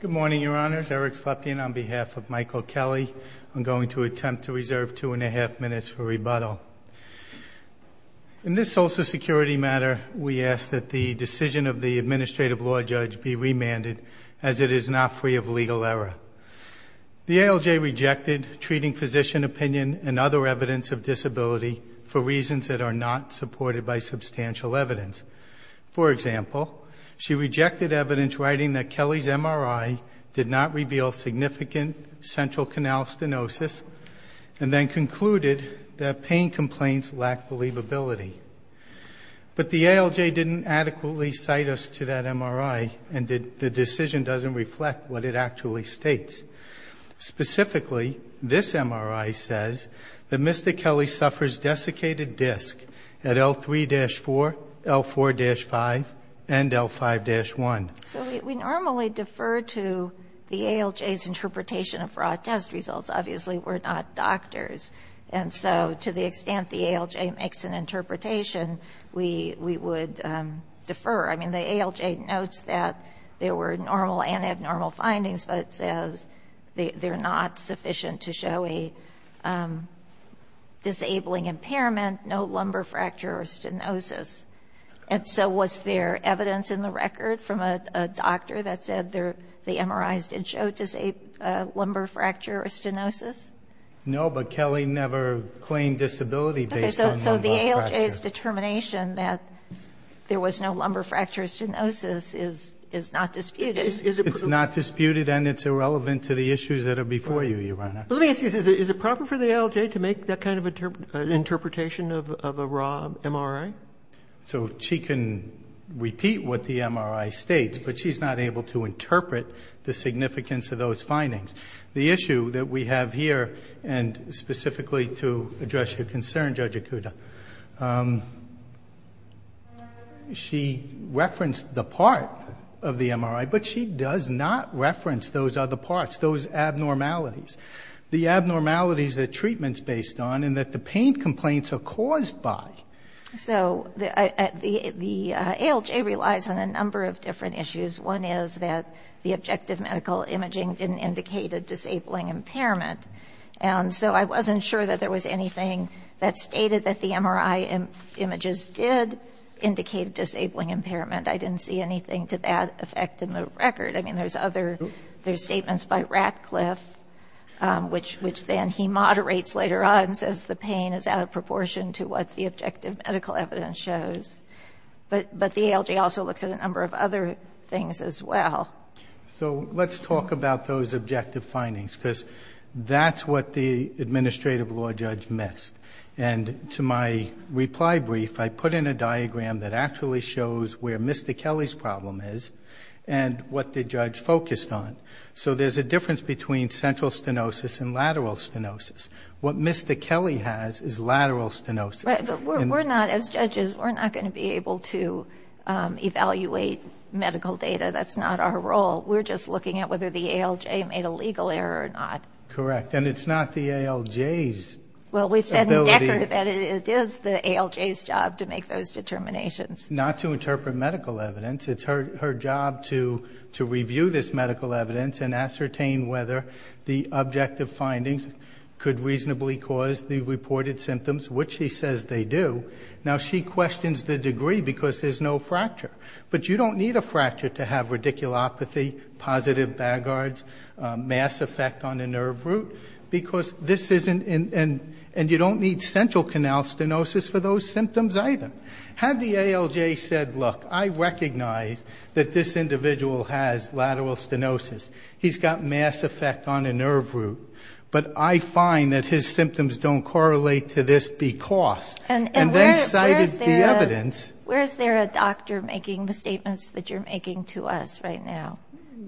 Good morning, Your Honors. Eric Slepian on behalf of Michael Kelly. I'm going to attempt to reserve two and a half minutes for rebuttal. In this social security matter, we ask that the decision of the administrative law judge be remanded as it is not free of legal error. The ALJ rejected treating physician opinion and other evidence of disability for reasons that are not supported by substantial evidence. For example, she rejected evidence writing that Kelly's MRI did not reveal significant central canal stenosis and then concluded that pain complaints lacked believability. But the ALJ didn't adequately cite us to that MRI, and the decision doesn't reflect what it actually states. Specifically, this MRI says that Mr. Kelly suffers desiccated disc at L3-4, L4-5, and L5-1. So we normally defer to the ALJ's interpretation of raw test results. Obviously, we're not doctors. And so to the extent the ALJ makes an interpretation, we would defer. I mean, the ALJ notes that there were normal and abnormal findings, but says they're not sufficient to show a disabling impairment, no lumbar fracture or stenosis. And so was there evidence in the record from a doctor that said the MRIs did show lumbar fracture or stenosis? No, but Kelly never claimed disability based on lumbar fracture. The ALJ's determination that there was no lumbar fracture or stenosis is not disputed. It's not disputed and it's irrelevant to the issues that are before you, Your Honor. Let me ask you this. Is it proper for the ALJ to make that kind of interpretation of a raw MRI? So she can repeat what the MRI states, but she's not able to interpret the significance of those findings. The issue that we have here, and specifically to address your concern, Judge Akuta, she referenced the part of the MRI, but she does not reference those other parts, those abnormalities, the abnormalities that treatment's based on and that the pain complaints are caused by. So the ALJ relies on a number of different issues. One is that the objective medical imaging didn't indicate a disabling impairment. And so I wasn't sure that there was anything that stated that the MRI images did indicate a disabling impairment. I didn't see anything to that effect in the record. I mean, there's other, there's statements by Ratcliffe, which then he moderates later on and says the pain is out of proportion to what the objective medical evidence shows. But the ALJ also looks at a number of other things as well. So let's talk about those objective findings, because that's what the administrative law judge missed. And to my reply brief, I put in a diagram that actually shows where Mr. Kelly's problem is and what the judge focused on. So there's a difference between central stenosis and lateral stenosis. What Mr. Kelly has is lateral stenosis. But we're not, as judges, we're not going to be able to evaluate medical data. That's not our role. We're just looking at whether the ALJ made a legal error or not. Correct. And it's not the ALJ's ability. Well, we've said in Decker that it is the ALJ's job to make those determinations. Not to interpret medical evidence. It's her job to review this medical evidence and ascertain whether the objective findings could reasonably cause the reported symptoms, which she says they do. Now, she questions the degree, because there's no fracture. But you don't need a fracture to have radiculopathy, positive baggards, mass effect on a nerve root, because this isn't in and you don't need central canal stenosis for those symptoms either. Had the ALJ said, look, I recognize that this individual has lateral stenosis. He's got mass effect on a nerve root. But I find that his symptoms don't correlate to this because. And then cited the evidence. And where is there a doctor making the statements that you're making to us right now?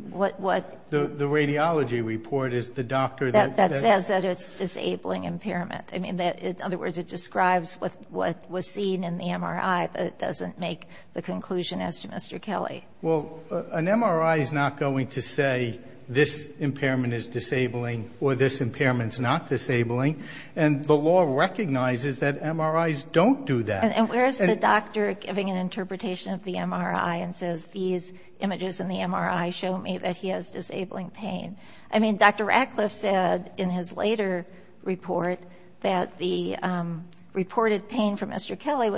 What? The radiology report is the doctor that says that it's disabling impairment. I mean, in other words, it describes what was seen in the MRI, but it doesn't make the conclusion as to Mr. Kelly. Well, an MRI is not going to say this impairment is disabling or this impairment is not disabling. And the law recognizes that MRIs don't do that. And where is the doctor giving an interpretation of the MRI and says, these images in the MRI show me that he has disabling pain? I mean, Dr. Ratcliffe said in his later report that the reported pain from Mr. Kelly And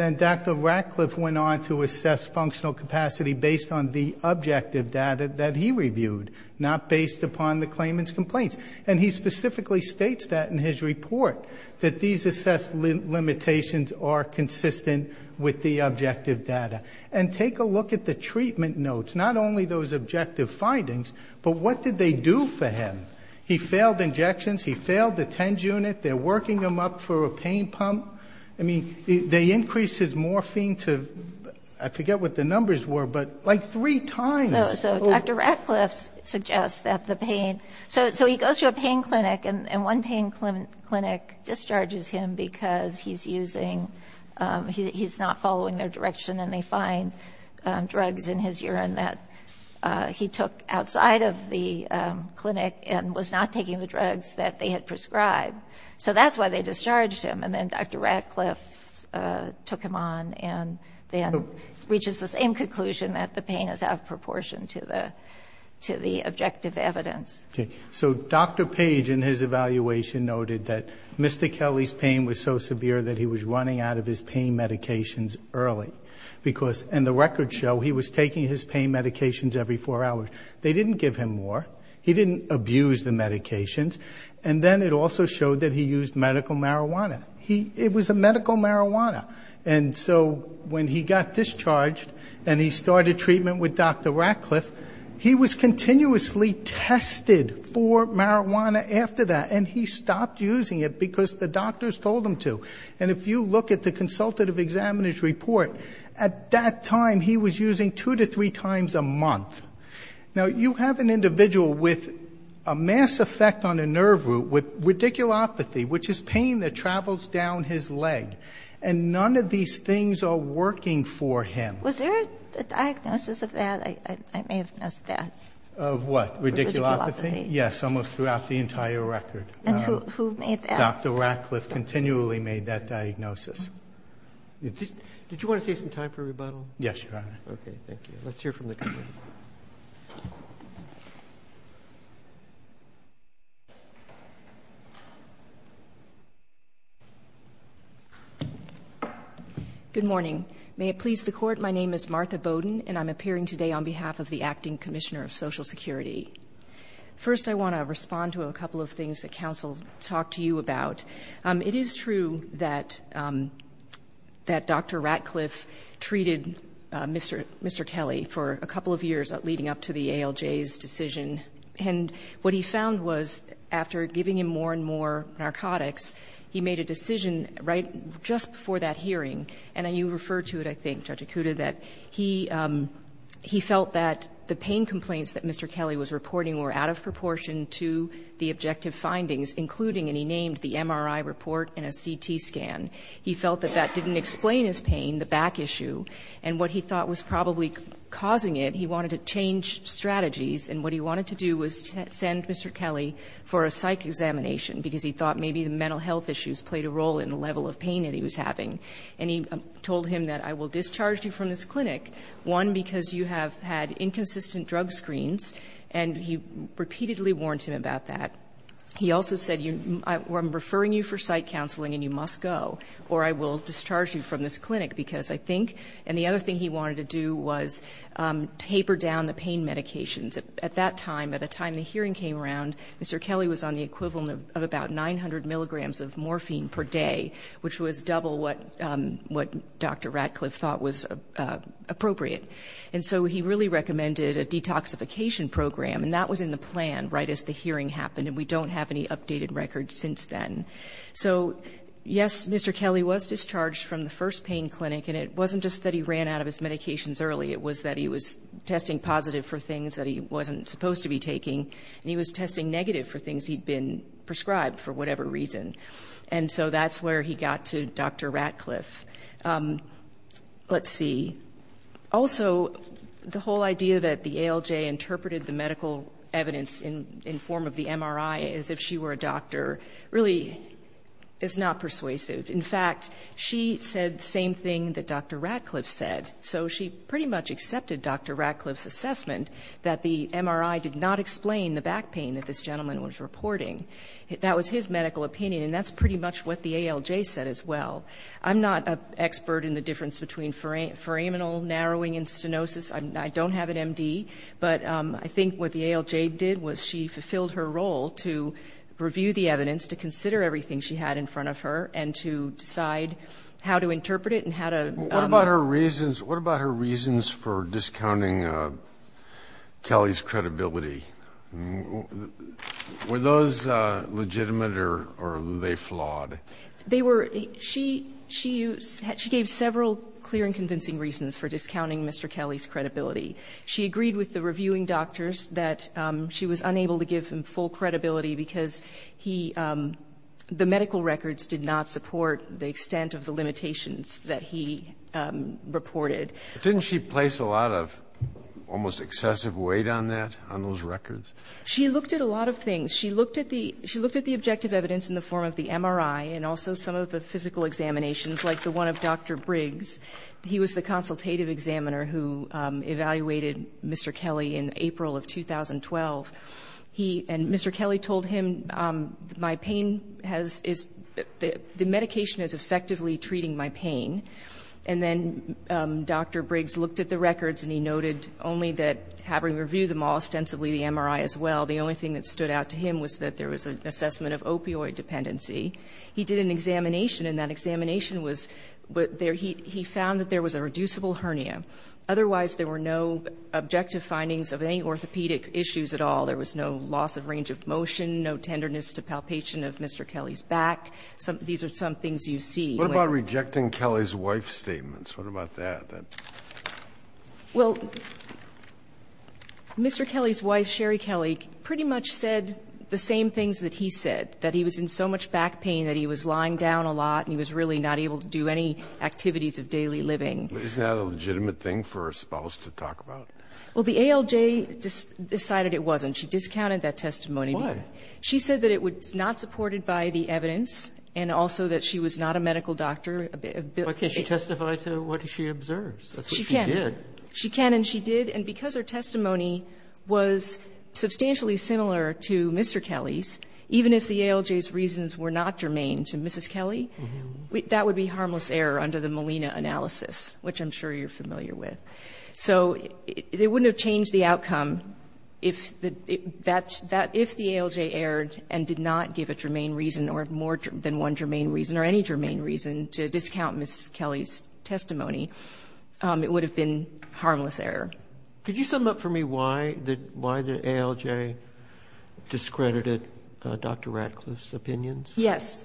then Dr. Ratcliffe went on to assess functional capacity based on the objective data that he reviewed, not based upon the claimant's complaints. And he specifically states that in his report, that these assessed limitations are consistent with the objective data. And take a look at the treatment notes. Not only those objective findings, but what did they do for him? He failed injections. He failed the TENS unit. They're working him up for a pain pump. I mean, they increased his morphine to, I forget what the numbers were, but like three times. So Dr. Ratcliffe suggests that the pain. So he goes to a pain clinic, and one pain clinic discharges him because he's using, he's not following their direction and they find drugs in his urine that he took outside of the clinic and was not taking the drugs that they had prescribed. So that's why they discharged him. And then Dr. Ratcliffe took him on and then reaches the same conclusion that the pain is out of proportion to the objective evidence. Okay. So Dr. Page in his evaluation noted that Mr. Kelly's pain was so severe that he was running out of his pain medications early. Because in the record show, he was taking his pain medications every four hours. They didn't give him more. He didn't abuse the medications. And then it also showed that he used medical marijuana. It was a medical marijuana. And so when he got discharged and he started treatment with Dr. Ratcliffe, he was continuously tested for marijuana after that. And he stopped using it because the doctors told him to. And if you look at the consultative examiner's report, at that time he was using two to three times a month. Now, you have an individual with a mass effect on a nerve root with radiculopathy, which is pain that travels down his leg. And none of these things are working for him. Was there a diagnosis of that? I may have missed that. Of what? Radiculopathy. Yes, almost throughout the entire record. And who made that? Dr. Ratcliffe continually made that diagnosis. Did you want to save some time for rebuttal? Yes, Your Honor. Okay. Thank you. Let's hear from the court. Good morning. May it please the Court, my name is Martha Bowden, and I'm appearing today on behalf of the Acting Commissioner of Social Security. First, I want to respond to a couple of things that counsel talked to you about. It is true that Dr. Ratcliffe treated Mr. Kelly for a couple of years leading up to the ALJ's decision. And what he found was, after giving him more and more narcotics, he made a decision right just before that hearing, and you referred to it, I think, Judge Acuda, that he felt that the pain complaints that Mr. Kelly was reporting were out of proportion to the objective findings, including, and he named the MRI report and a CT scan. He felt that that didn't explain his pain, the back issue. And what he thought was probably causing it, he wanted to change strategies. And what he wanted to do was send Mr. Kelly for a psych examination, because he thought maybe the mental health issues played a role in the level of pain that he was having. And he told him that, I will discharge you from this clinic, one, because you have had inconsistent drug screens, and he repeatedly warned him about that. He also said, I'm referring you for psych counseling and you must go, or I will discharge you from this clinic, because I think, and the other thing he wanted to do was taper down the pain medications. At that time, at the time the hearing came around, Mr. Kelly was on the equivalent of about 900 milligrams of morphine per day, which was double what Dr. Ratcliffe thought was appropriate. And so he really recommended a detoxification program, and that was in the plan right as the hearing happened, and we don't have any updated records since then. So, yes, Mr. Kelly was discharged from the first pain clinic, and it wasn't just that he ran out of his medications early. It was that he was testing positive for things that he wasn't supposed to be taking, and he was testing negative for things he'd been prescribed for whatever reason. And so that's where he got to Dr. Ratcliffe. Let's see. Also, the whole idea that the ALJ interpreted the medical evidence in form of the MRI as if she were a doctor really is not persuasive. In fact, she said the same thing that Dr. Ratcliffe said. So she pretty much accepted Dr. Ratcliffe's assessment that the MRI did not explain the back pain that this gentleman was reporting. That was his medical opinion, and that's pretty much what the ALJ said as well. I'm not an expert in the difference between foramenal narrowing and stenosis. I don't have an M.D., but I think what the ALJ did was she fulfilled her role to review the evidence, to consider everything she had in front of her, and to decide how to interpret it and how to ---- What about her reasons for discounting Kelly's credibility? Were those legitimate or were they flawed? They were ---- She gave several clear and convincing reasons for discounting Mr. Kelly's credibility. She agreed with the reviewing doctors that she was unable to give him full credibility because he ---- the medical records did not support the extent of the limitations that he reported. Didn't she place a lot of almost excessive weight on that, on those records? She looked at a lot of things. She looked at the objective evidence in the form of the MRI and also some of the physical examinations, like the one of Dr. Briggs. He was the consultative examiner who evaluated Mr. Kelly in April of 2012. He and Mr. Kelly told him, my pain has ---- the medication is effectively treating my pain. And then Dr. Briggs looked at the records and he noted only that having reviewed them all, ostensibly the MRI as well, the only thing that stood out to him was that there was an assessment of opioid dependency. He did an examination, and that examination was ---- he found that there was a reducible hernia. Otherwise, there were no objective findings of any orthopedic issues at all. There was no loss of range of motion, no tenderness to palpation of Mr. Kelly's back. These are some things you see. What about rejecting Kelly's wife's statements? What about that? Well, Mr. Kelly's wife, Sherry Kelly, pretty much said the same things that he said, that he was in so much back pain that he was lying down a lot and he was really not able to do any activities of daily living. Isn't that a legitimate thing for a spouse to talk about? Well, the ALJ decided it wasn't. She discounted that testimony. Why? She said that it was not supported by the evidence and also that she was not a medical doctor. But can she testify to what she observes? That's what she did. She can. She can and she did. And because her testimony was substantially similar to Mr. Kelly's, even if the ALJ's reasons were not germane to Mrs. Kelly, that would be harmless error under the Molina analysis, which I'm sure you're familiar with. So it wouldn't have changed the outcome if the ALJ erred and did not give a germane reason or more than one germane reason or any germane reason to discount Mrs. Kelly's testimony. It would have been harmless error. Could you sum up for me why the ALJ discredited Dr. Ratcliffe's opinions? Yes.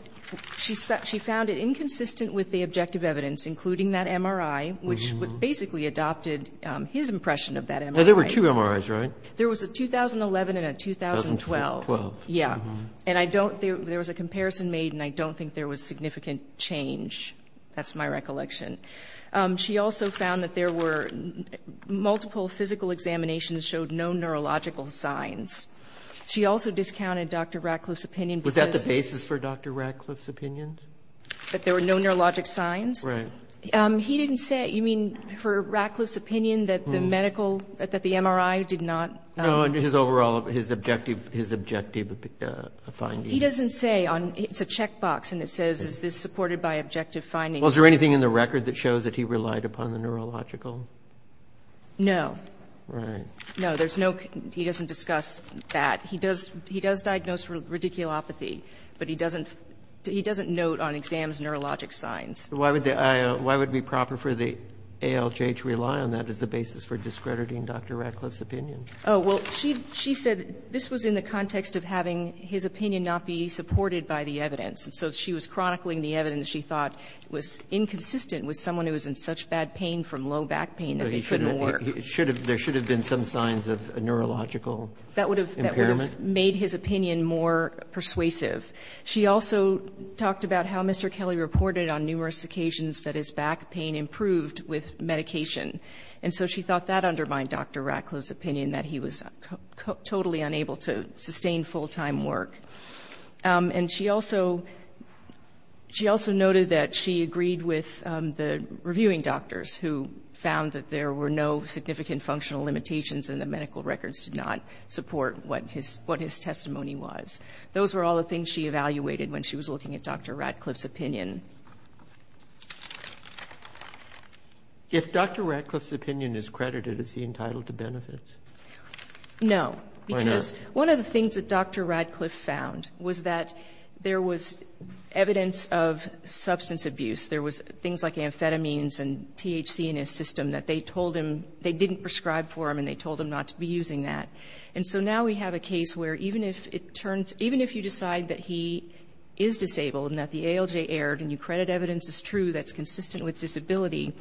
She found it inconsistent with the objective evidence, including that MRI, which basically adopted his impression of that MRI. Now, there were two MRIs, right? There was a 2011 and a 2012. 2012. Yeah. And I don't think there was a comparison made and I don't think there was significant change. That's my recollection. She also found that there were multiple physical examinations showed no neurological signs. She also discounted Dr. Ratcliffe's opinion. Was that the basis for Dr. Ratcliffe's opinion? That there were no neurologic signs? Right. He didn't say. You mean for Ratcliffe's opinion that the medical, that the MRI did not? No, his overall, his objective, his objective findings. He doesn't say on, it's a checkbox and it says, is this supported by objective findings? Well, is there anything in the record that shows that he relied upon the neurological? No. Right. No, there's no, he doesn't discuss that. He does, he does diagnose radiculopathy, but he doesn't, he doesn't note on exams neurologic signs. Why would the, why would it be proper for the ALJ to rely on that as a basis for discrediting Dr. Ratcliffe's opinion? Oh, well, she, she said this was in the context of having his opinion not be supported by the evidence. And so she was chronicling the evidence she thought was inconsistent with someone who was in such bad pain from low back pain that they couldn't work. There should have been some signs of a neurological impairment? That would have made his opinion more persuasive. She also talked about how Mr. Kelly reported on numerous occasions that his back pain improved with medication. And so she thought that undermined Dr. Ratcliffe's opinion, that he was totally unable to sustain full-time work. And she also, she also noted that she agreed with the reviewing doctors who found that there were no significant functional limitations and the medical records did not support what his, what his testimony was. Those were all the things she evaluated when she was looking at Dr. Ratcliffe's opinion. If Dr. Ratcliffe's opinion is credited, is he entitled to benefits? No. Why not? Because one of the things that Dr. Ratcliffe found was that there was evidence of substance abuse. There was things like amphetamines and THC in his system that they told him, they didn't prescribe for him and they told him not to be using that. And so now we have a case where even if it turns, even if you decide that he is disabled and that the ALJ erred and you credit evidence as true that's consistent with disability,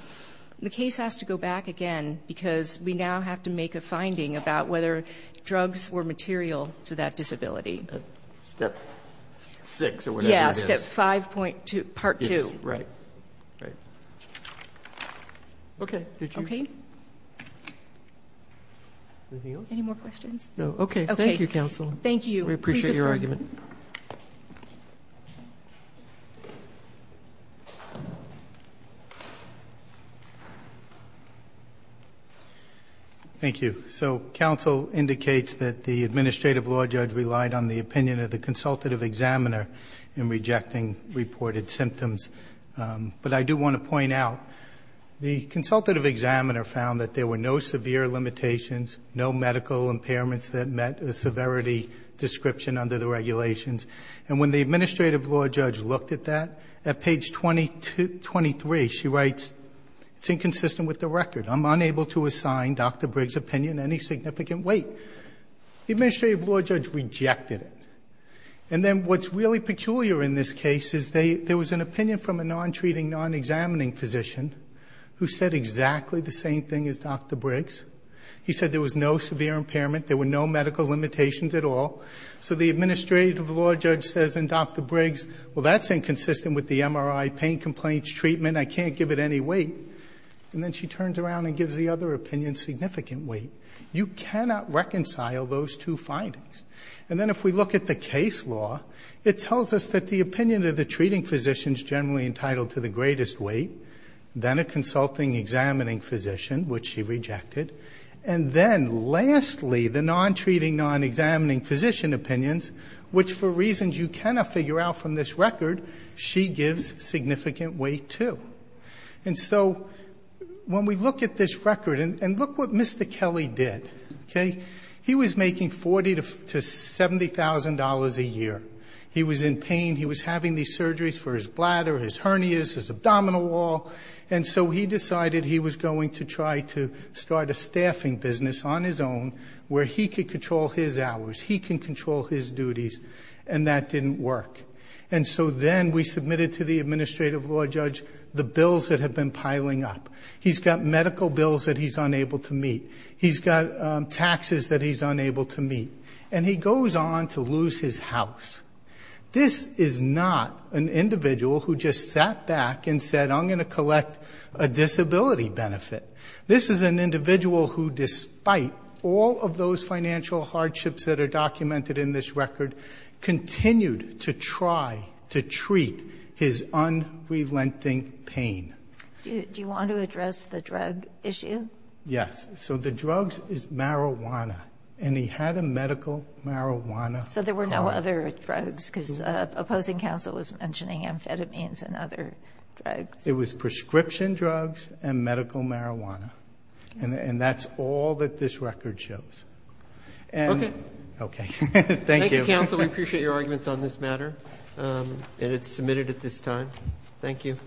the case has to go back again because we now have to make a finding about whether drugs were material to that disability. Step 6 or whatever it is. Yes, step 5.2, part 2. Right. Right. Okay. Did you? Okay. Anything else? Any more questions? No. Okay. Okay. Thank you, counsel. Thank you. We appreciate your argument. Thank you. So counsel indicates that the administrative law judge relied on the opinion of the consultative examiner in rejecting reported symptoms. But I do want to point out the consultative examiner found that there were no severe limitations, no medical impairments that met a severity description under the regulations. And when the administrative law judge looked at that, at page 23 she writes, it's inconsistent with the record. I'm unable to assign Dr. Briggs' opinion any significant weight. The administrative law judge rejected it. And then what's really peculiar in this case is there was an opinion from a non-treating, non-examining physician who said exactly the same thing as Dr. Briggs. He said there was no severe impairment. There were no medical limitations at all. So the administrative law judge says, and Dr. Briggs, well, that's inconsistent with the MRI pain complaints treatment. I can't give it any weight. And then she turns around and gives the other opinion significant weight. You cannot reconcile those two findings. And then if we look at the case law, it tells us that the opinion of the treating physician is generally entitled to the greatest weight. Then a consulting, examining physician, which she rejected. And then lastly, the non-treating, non-examining physician opinions, which for reasons you cannot figure out from this record, she gives significant weight, too. And so when we look at this record, and look what Mr. Kelly did, okay? He was making $40,000 to $70,000 a year. He was in pain. He was having these surgeries for his bladder, his hernias, his abdominal wall. And so he decided he was going to try to start a staffing business on his own where he could control his hours. He can control his duties. And that didn't work. And so then we submitted to the administrative law judge the bills that have been piling up. He's got medical bills that he's unable to meet. He's got taxes that he's unable to meet. And he goes on to lose his house. This is not an individual who just sat back and said, I'm going to collect a disability benefit. This is an individual who, despite all of those financial hardships that are documented in this record, continued to try to treat his unrelenting pain. Do you want to address the drug issue? Yes. So the drugs is marijuana. And he had a medical marijuana card. So there were no other drugs? Because opposing counsel was mentioning amphetamines and other drugs. It was prescription drugs and medical marijuana. And that's all that this record shows. Okay. Thank you. Thank you, counsel. We appreciate your arguments on this matter. And it's submitted at this time. Thank you.